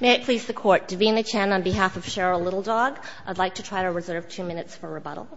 May it please the Court, Davina Chen on behalf of Cheryl Little Dog. I'd like to try to reserve two minutes for rebuttal.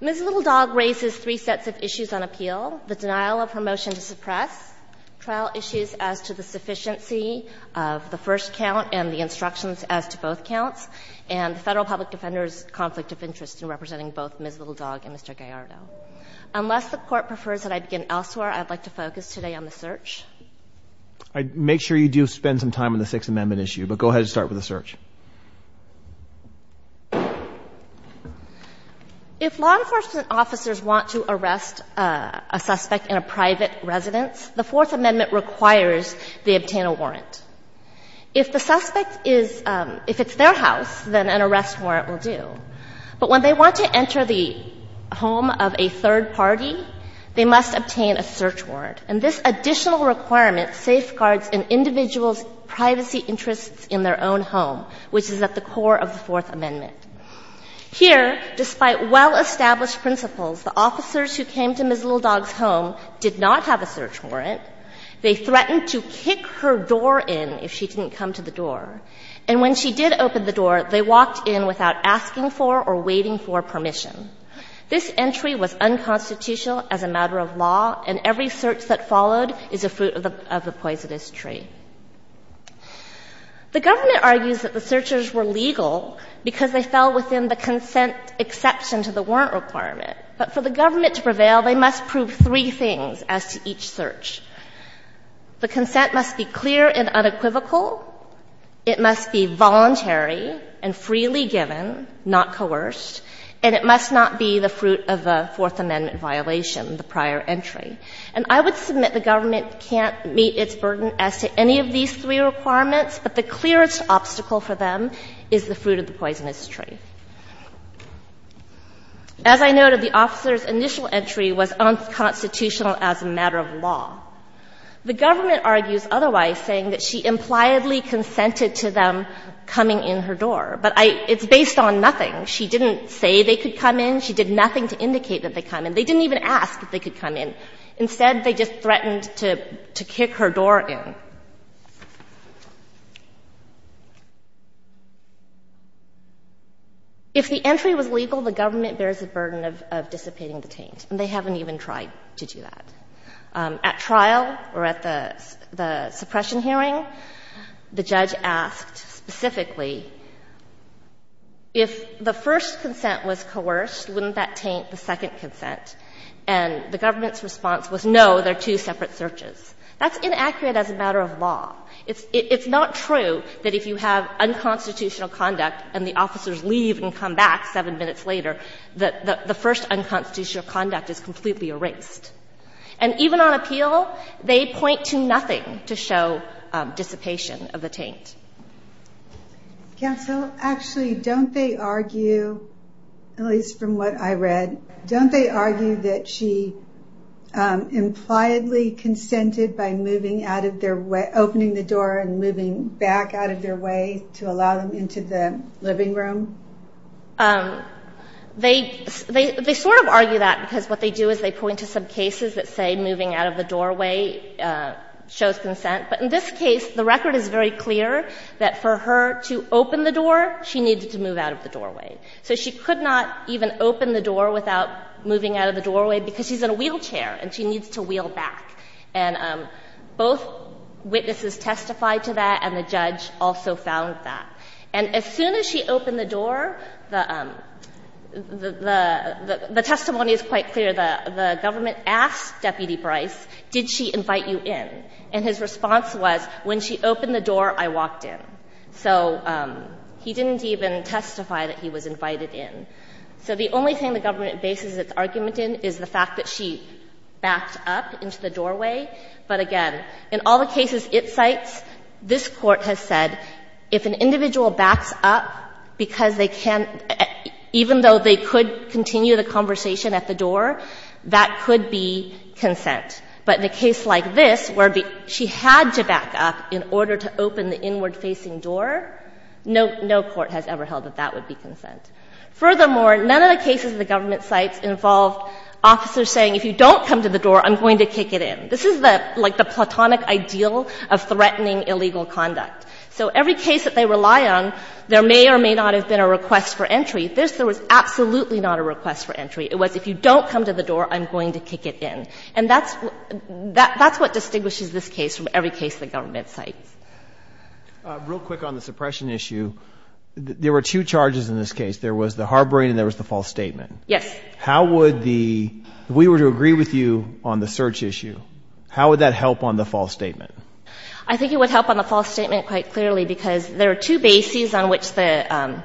Ms. Little Dog raises three sets of issues on appeal, the denial of her motion to suppress, trial issues as to the sufficiency of the first count and the instructions as to both counts, and the Federal Public Defender's conflict of interest in representing both Ms. Little Dog and Mr. Gallardo. Unless the Court prefers that I begin elsewhere, I'd like to focus today on the search. I'd make sure you do spend some time on the Sixth Amendment issue, but go ahead and start with the search. If law enforcement officers want to arrest a suspect in a private residence, the Fourth Amendment requires they obtain a warrant. If the suspect is, if it's their house, then an arrest warrant will do. But when they want to enter the home of a third party, they must obtain a search warrant. And this additional requirement safeguards an individual's privacy interests in their own home, which is at the core of the Fourth Amendment. Here, despite well-established principles, the officers who came to Ms. Little Dog's home did not have a search warrant. They threatened to kick her door in if she didn't come to the door. And when she did open the door, they walked in without asking for or waiting for permission. This entry was unconstitutional as a matter of law, and every search that followed is a fruit of the poisonous tree. The government argues that the searchers were legal because they fell within the consent exception to the warrant requirement. But for the government to prevail, they must prove three things as to each search. The consent must be clear and unequivocal. It must be voluntary and freely given, not coerced. And it must not be the fruit of a Fourth Amendment violation, the prior entry. And I would submit the government can't meet its burden as to any of these three requirements, but the clearest obstacle for them is the fruit of the poisonous tree. As I noted, the officer's initial entry was unconstitutional as a matter of law. The government argues otherwise, saying that she impliedly consented to them coming in her door. But I — it's based on nothing. She didn't say they could come in. She did nothing to indicate that they come in. They didn't even ask that they could come in. Instead, they just threatened to kick her door in. If the entry was legal, the government bears the burden of dissipating the taint, and they haven't even tried to do that. At trial or at the suppression hearing, the judge asked specifically, if the first consent was coerced, wouldn't that taint the second consent? And the government's response was, no, they're two separate searches. That's inaccurate as a matter of law. It's not true that if you have unconstitutional conduct and the officers leave and come back seven minutes later, that the first unconstitutional conduct is completely erased. And even on appeal, they point to nothing to show dissipation of the taint. Counsel, actually, don't they argue, at least from what I read, don't they argue that she impliedly consented by opening the door and moving back out of their way to allow them into the living room? They sort of argue that because what they do is they point to some cases that say moving out of the doorway shows consent. But in this case, the record is very clear that for her to open the door, she needed to move out of the doorway. So she could not even open the door without moving out of the doorway because she's in a wheelchair and she needs to wheel back. And both witnesses testified to that, and the judge also found that. And as soon as she opened the door, the testimony is quite clear. The government asked Deputy Bryce, did she invite you in? And his response was, when she opened the door, I walked in. So he didn't even testify that he was invited in. So the only thing the government bases its argument in is the fact that she backed up into the doorway. But again, in all the cases it cites, this Court has said if an individual backs up because they can't, even though they could continue the conversation at the door, that could be consent. But in a case like this, where she had to back up in order to open the inward facing door, no court has ever held that that would be consent. Furthermore, none of the cases the government cites involve officers saying if you don't come to the door, I'm going to kick it in. This is like the platonic ideal of threatening illegal conduct. So every case that they rely on, there may or may not have been a request for entry. This, there was absolutely not a request for entry. It was if you don't come to the door, I'm going to kick it in. And that's what distinguishes this case from every case the government cites. Real quick on the suppression issue. There were two charges in this case. There was the harboring and there was the false statement. Yes. How would the, if we were to agree with you on the search issue, how would that help on the false statement? I think it would help on the false statement quite clearly because there are two bases on which the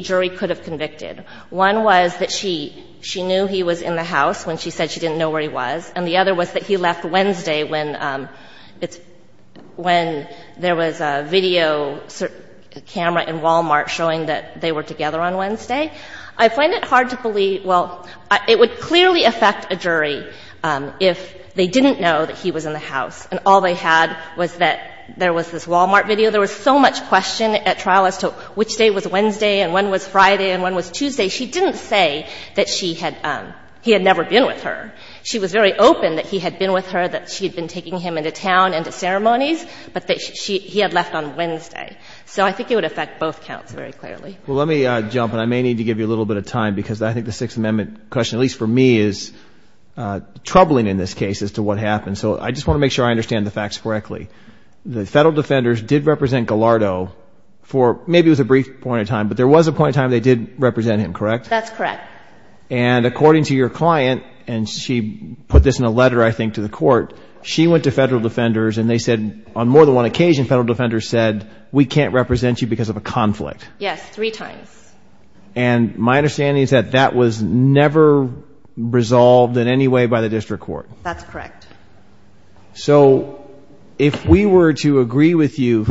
jury could have convicted. One was that she knew he was in the house when she said she didn't know where he was. And the other was that he left Wednesday when there was a video camera in Walmart showing that they were together on Wednesday. I find it hard to believe, well, it would clearly affect a jury if they didn't know that he was in the house and all they had was that there was this Walmart video. There was so much question at trial as to which day was Wednesday and when was Friday and when was Tuesday. She didn't say that she had, he had never been with her. She was very open that he had been with her, that she had been taking him into town and to ceremonies, but that she, he had left on Wednesday. So I think it would affect both counts very clearly. Well, let me jump in. I may need to give you a little bit of time because I think the Sixth Amendment question, at least for me, is troubling in this case as to what happened. So I just want to make sure I understand the facts correctly. The federal defenders did represent Gallardo for, maybe it was a brief point in time, but there was a point in time they did represent him, correct? That's correct. And according to your client, and she put this in a letter I think to the court, she went to federal defenders and they said on more than one occasion, federal defenders said, we can't represent you because of a conflict. Yes, three times. And my understanding is that that was never resolved in any way by the district court. That's correct. So if we were to agree with you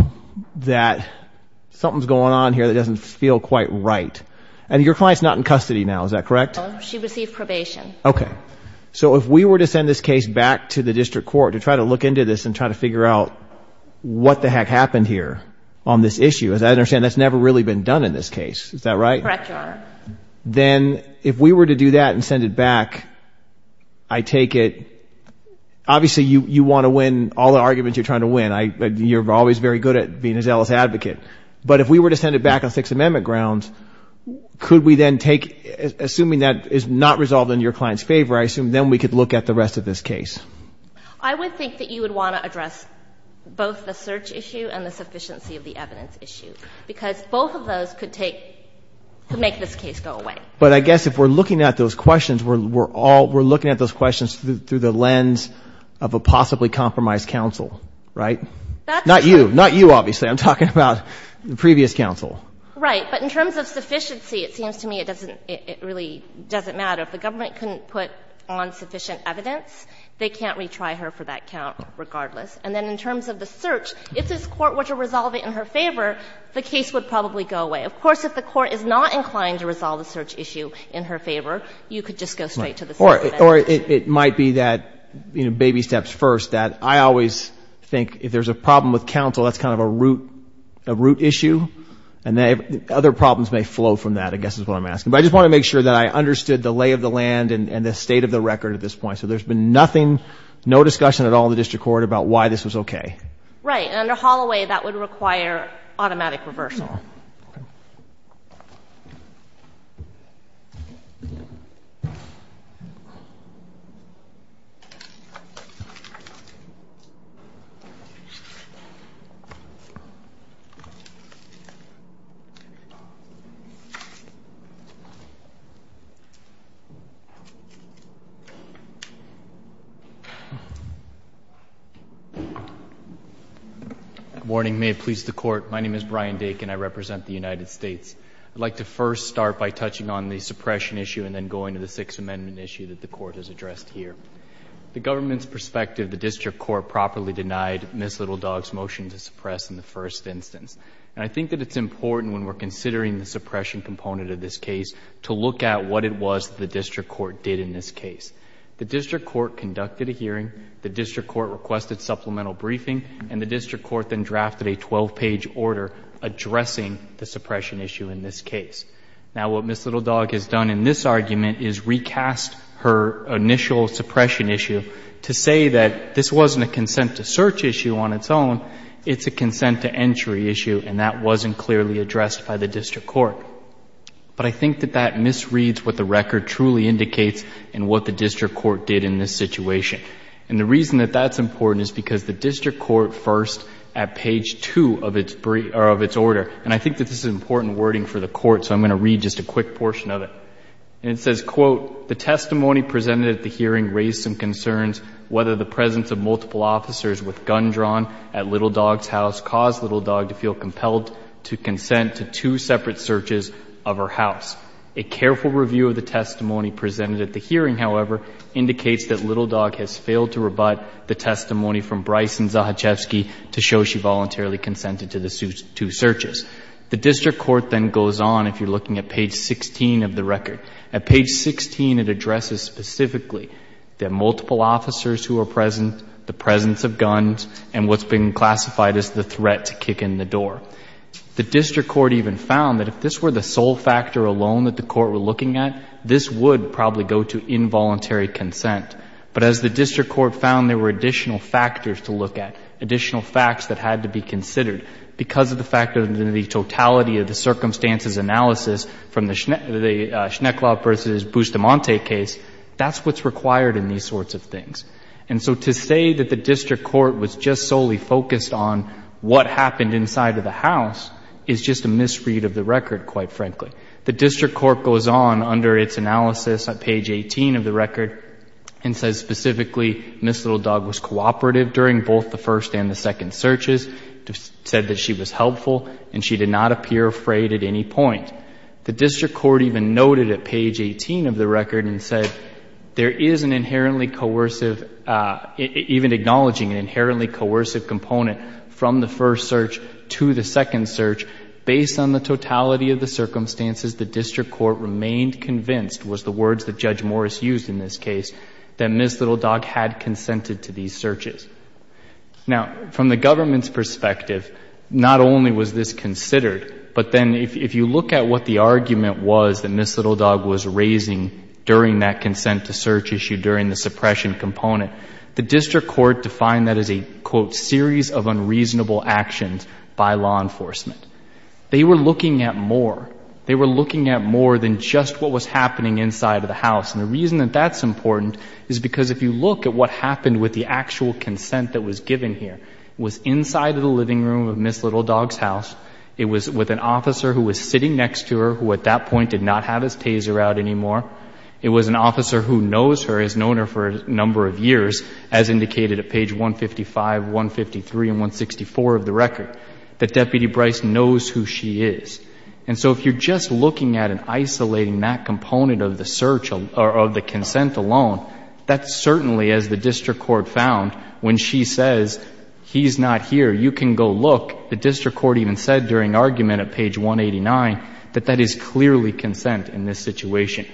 that something's going on here that doesn't feel quite right, and your client's not in custody now, is that correct? No, she received probation. Okay. So if we were to send this case back to the district court to try to look into this and try to figure out what the heck happened here on this issue, as I understand it, which has never really been done in this case, is that right? Correct, Your Honor. Then if we were to do that and send it back, I take it, obviously you want to win all the arguments you're trying to win. You're always very good at being a zealous advocate. But if we were to send it back on Sixth Amendment grounds, could we then take assuming that is not resolved in your client's favor, I assume then we could look at the rest of this case. I would think that you would want to address both the search issue and the search issue. But both of those could take, could make this case go away. But I guess if we're looking at those questions, we're all, we're looking at those questions through the lens of a possibly compromised counsel, right? That's true. Not you. Not you, obviously. I'm talking about the previous counsel. Right. But in terms of sufficiency, it seems to me it doesn't, it really doesn't matter. If the government couldn't put on sufficient evidence, they can't retry her for that count regardless. And then in terms of the search, if this Court were to resolve it in her favor, the case would probably go away. Of course, if the Court is not inclined to resolve the search issue in her favor, you could just go straight to the Sixth Amendment. Right. Or it might be that, you know, baby steps first, that I always think if there's a problem with counsel, that's kind of a root, a root issue. And other problems may flow from that, I guess is what I'm asking. But I just want to make sure that I understood the lay of the land and the state of the record at this point. So there's been nothing, no discussion at all in the district court about why this was okay. Right. And under Holloway, that would require automatic reversal. Good morning. May it please the Court. My name is Brian Dakin. I represent the United States. I'd like to first start by touching on the suppression issue and then going to the Sixth Amendment issue that the Court has addressed here. The government's perspective, the district court properly denied Ms. Little Dog's motion to suppress in the first instance. And I think that it's important when we're considering the suppression component of this case to look at what it was the district court did in this case. The district court conducted a hearing. The district court requested supplemental briefing. And the district court then drafted a 12-page order addressing the suppression issue in this case. Now, what Ms. Little Dog has done in this argument is recast her initial suppression issue to say that this wasn't a consent-to-search issue on its own. It's a consent-to-entry issue, and that wasn't clearly addressed by the district court. But I think that that misreads what the record truly indicates and what the district court did in this situation. And the reason that that's important is because the district court first, at page 2 of its order, and I think that this is important wording for the Court, so I'm going to read just a quick portion of it. And it says, Quote, The testimony presented at the hearing raised some concerns whether the presence of multiple officers with guns drawn at Little Dog's house caused Little Dog to feel compelled to consent to two separate searches of her house. A careful review of the testimony presented at the hearing, however, indicates that Little Dog has failed to rebut the testimony from Bryce and Zahachewski to show she voluntarily consented to the two searches. The district court then goes on, if you're looking at page 16 of the record. At page 16, it addresses specifically the multiple officers who are present, the presence of guns, and what's been classified as the threat to kick in the door. The district court even found that if this were the sole factor alone that the court were looking at, this would probably go to involuntary consent. But as the district court found there were additional factors to look at, additional facts that had to be considered, because of the fact of the totality of the circumstances analysis from the Schnekeloff v. Bustamante case, that's what's required in these sorts of things. And so to say that the district court was just solely focused on what happened inside of the house is just a misread of the record, quite frankly. The district court goes on under its analysis at page 18 of the record and says specifically Ms. Little Dog was cooperative during both the first and the second searches, said that she was helpful, and she did not appear afraid at any point. The district court even noted at page 18 of the record and said there is an inherently coercive, even acknowledging an inherently coercive component from the circumstances, the district court remained convinced, was the words that Judge Morris used in this case, that Ms. Little Dog had consented to these searches. Now, from the government's perspective, not only was this considered, but then if you look at what the argument was that Ms. Little Dog was raising during that consent-to-search issue, during the suppression component, the district court defined that as a, quote, series of unreasonable actions by law enforcement. They were looking at more. They were looking at more than just what was happening inside of the house. And the reason that that's important is because if you look at what happened with the actual consent that was given here, it was inside of the living room of Ms. Little Dog's house, it was with an officer who was sitting next to her who at that point did not have his taser out anymore, it was an officer who knows her, has known her for a number of years, as indicated at page 155, 153, and 164 of the case, and knows who she is. And so if you're just looking at and isolating that component of the search or of the consent alone, that's certainly, as the district court found, when she says, he's not here, you can go look, the district court even said during argument at page 189, that that is clearly consent in this situation.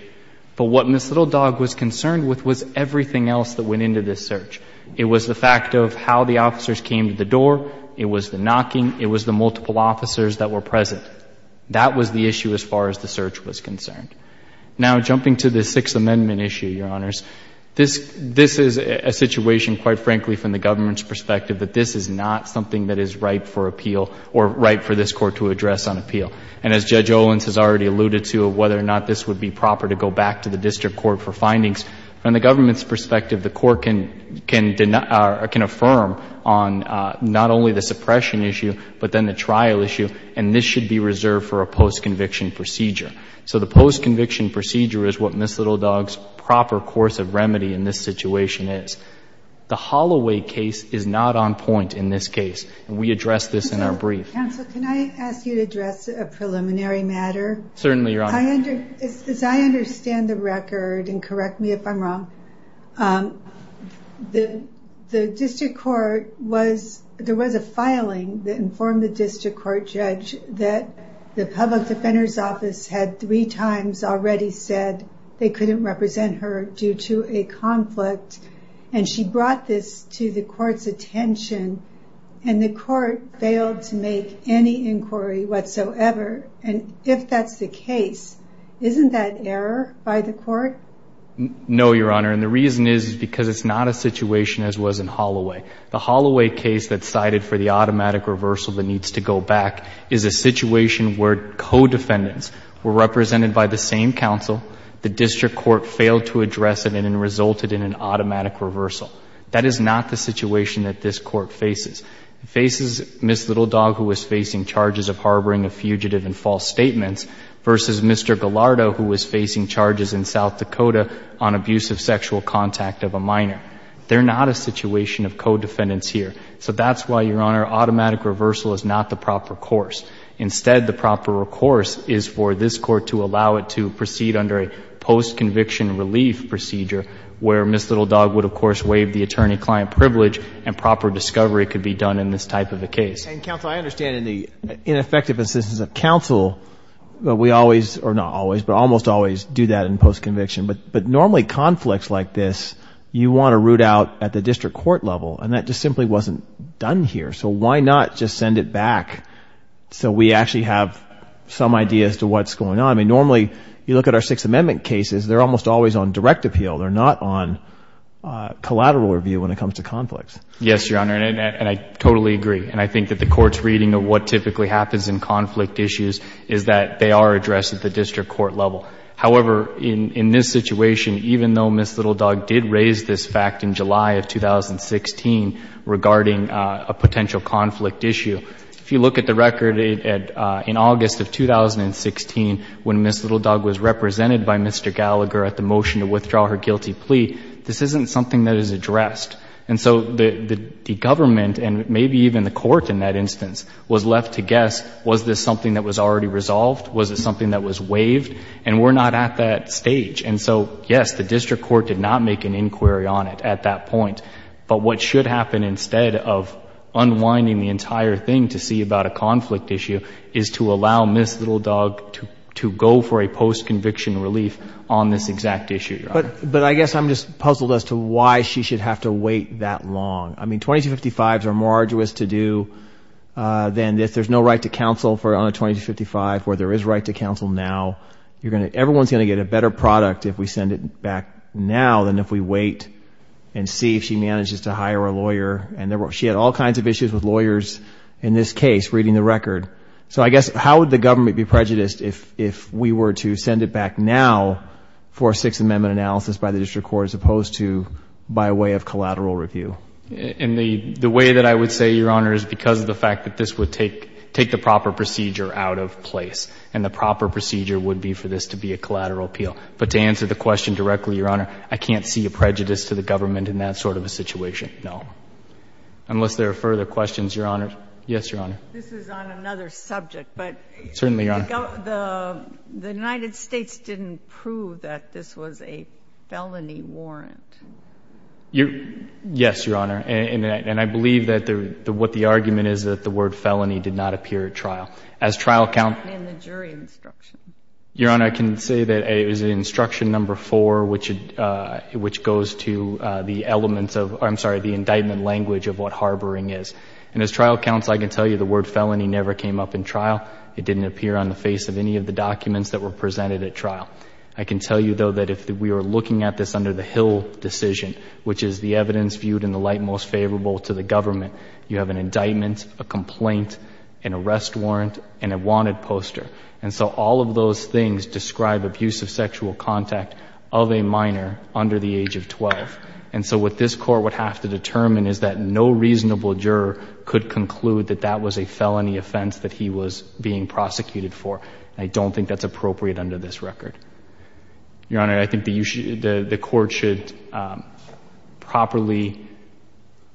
But what Ms. Little Dog was concerned with was everything else that went into this search. It was the fact of how the officers came to the door, it was the knocking, it was the multiple officers that were present. That was the issue as far as the search was concerned. Now, jumping to the Sixth Amendment issue, Your Honors, this is a situation, quite frankly, from the government's perspective, that this is not something that is right for appeal or right for this Court to address on appeal. And as Judge Owens has already alluded to, whether or not this would be proper to go back to the district court for findings, from the government's perspective, the and this should be reserved for a post-conviction procedure. So the post-conviction procedure is what Ms. Little Dog's proper course of remedy in this situation is. The Holloway case is not on point in this case. We addressed this in our brief. Counsel, can I ask you to address a preliminary matter? Certainly, Your Honor. As I understand the record, and correct me if I'm wrong, the district court was, there was a filing that informed the district court judge that the public defender's office had three times already said they couldn't represent her due to a conflict. And she brought this to the court's attention. And the court failed to make any inquiry whatsoever. And if that's the case, isn't that error by the court? No, Your Honor. And the reason is because it's not a situation as was in Holloway. The Holloway case that's cited for the automatic reversal that needs to go back is a situation where co-defendants were represented by the same counsel. The district court failed to address it and it resulted in an automatic reversal. That is not the situation that this Court faces. It faces Ms. Little Dog, who was facing charges of harboring a fugitive in false statements, versus Mr. Gallardo, who was facing charges in South Dakota on abusive sexual contact of a minor. They're not a situation of co-defendants here. So that's why, Your Honor, automatic reversal is not the proper course. Instead, the proper course is for this Court to allow it to proceed under a post-conviction relief procedure where Ms. Little Dog would, of course, waive the attorney-client privilege and proper discovery could be done in this type of a case. And, Counsel, I understand in the ineffective assistance of counsel, we always, or not always, but almost always do that in post-conviction. But normally conflicts like this, you want to root out at the district court level and that just simply wasn't done here. So why not just send it back so we actually have some idea as to what's going on? I mean, normally, you look at our Sixth Amendment cases, they're almost always on direct appeal. They're not on collateral review when it comes to conflicts. Yes, Your Honor, and I totally agree. And I think that the Court's reading of what typically happens in conflict issues is that they are addressed at the district court level. However, in this situation, even though Ms. Little Dog did raise this fact in July of 2016 regarding a potential conflict issue, if you look at the record in August of 2016 when Ms. Little Dog was represented by Mr. Gallagher at the motion to withdraw her guilty plea, this isn't something that is addressed. And so the government and maybe even the Court in that instance was left to guess, was this something that was already resolved? Was it something that was waived? And we're not at that stage. And so, yes, the district court did not make an inquiry on it at that point. But what should happen instead of unwinding the entire thing to see about a conflict issue is to allow Ms. Little Dog to go for a post-conviction relief on this exact issue, Your Honor. But I guess I'm just puzzled as to why she should have to wait that long. I mean, 2255s are more arduous to do than if there's no right to counsel for there is right to counsel now. Everyone's going to get a better product if we send it back now than if we wait and see if she manages to hire a lawyer. And she had all kinds of issues with lawyers in this case, reading the record. So I guess how would the government be prejudiced if we were to send it back now for a Sixth Amendment analysis by the district court as opposed to by way of collateral review? And the way that I would say, Your Honor, is because of the fact that this would take the proper procedure out of place. And the proper procedure would be for this to be a collateral appeal. But to answer the question directly, Your Honor, I can't see a prejudice to the government in that sort of a situation, no. Unless there are further questions, Your Honor. Yes, Your Honor. This is on another subject, but the United States didn't prove that this was a felony warrant. Yes, Your Honor. And I believe that what the argument is that the word felony did not appear at trial. And the jury instruction. Your Honor, I can say that it was instruction number four, which goes to the elements of, I'm sorry, the indictment language of what harboring is. And as trial counsel, I can tell you the word felony never came up in trial. It didn't appear on the face of any of the documents that were presented at trial. I can tell you, though, that if we were looking at this under the Hill decision, which is the evidence viewed in the light most favorable to the government, you have an indictment, a complaint, an arrest warrant, and a wanted poster. And so all of those things describe abusive sexual contact of a minor under the age of 12. And so what this Court would have to determine is that no reasonable juror could conclude that that was a felony offense that he was being prosecuted for. And I don't think that's appropriate under this record. Your Honor, I think the Court should properly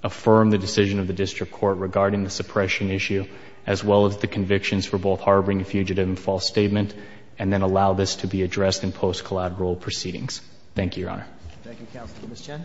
affirm the decision of the District Court regarding the suppression issue, as well as the convictions for both harboring a fugitive and false statement, and then allow this to be addressed in post-collateral proceedings. Thank you, Your Honor. Thank you, Counsel. Ms. Chen?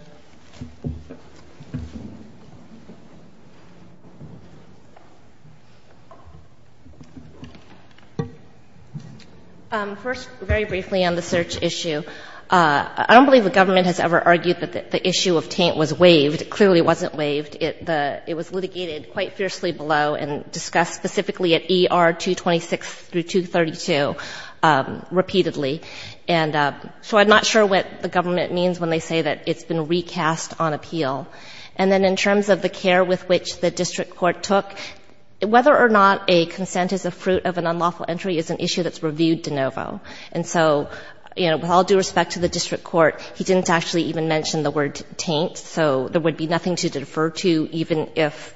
First, very briefly on the search issue, I don't believe the government has ever argued that the issue of taint was waived. It clearly wasn't waived. It was litigated quite fiercely below and discussed specifically at ER 226 through 232 repeatedly. And so I'm not sure what the government means when they say that it's been recast on appeal. And then in terms of the care with which the District Court took, whether or not a consent is a fruit of an unlawful entry is an issue that's reviewed de novo. And so, you know, with all due respect to the District Court, he didn't actually even mention the word taint. So there would be nothing to defer to, even if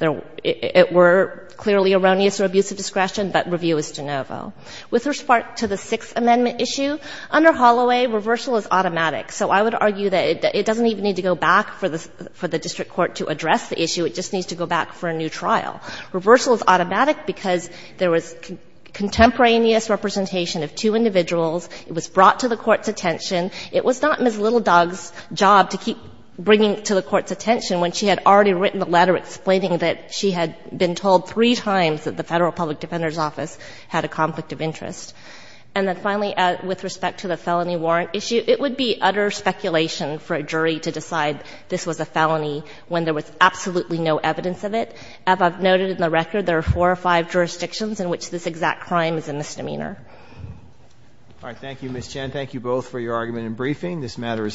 it were clearly erroneous or abusive discretion, but review is de novo. With respect to the Sixth Amendment issue, under Holloway, reversal is automatic. So I would argue that it doesn't even need to go back for the District Court to address the issue. It just needs to go back for a new trial. Reversal is automatic because there was contemporaneous representation of two individuals. It was brought to the Court's attention. It was not Ms. Little Dog's job to keep bringing it to the Court's attention when she had already written a letter explaining that she had been told three times that the Federal Public Defender's Office had a conflict of interest. And then finally, with respect to the felony warrant issue, it would be utter speculation for a jury to decide this was a felony when there was absolutely no evidence of it. As I've noted in the record, there are four or five jurisdictions in which this exact crime is a misdemeanor. Roberts. Thank you, Ms. Chen. Thank you both for your argument and briefing. This matter is submitted.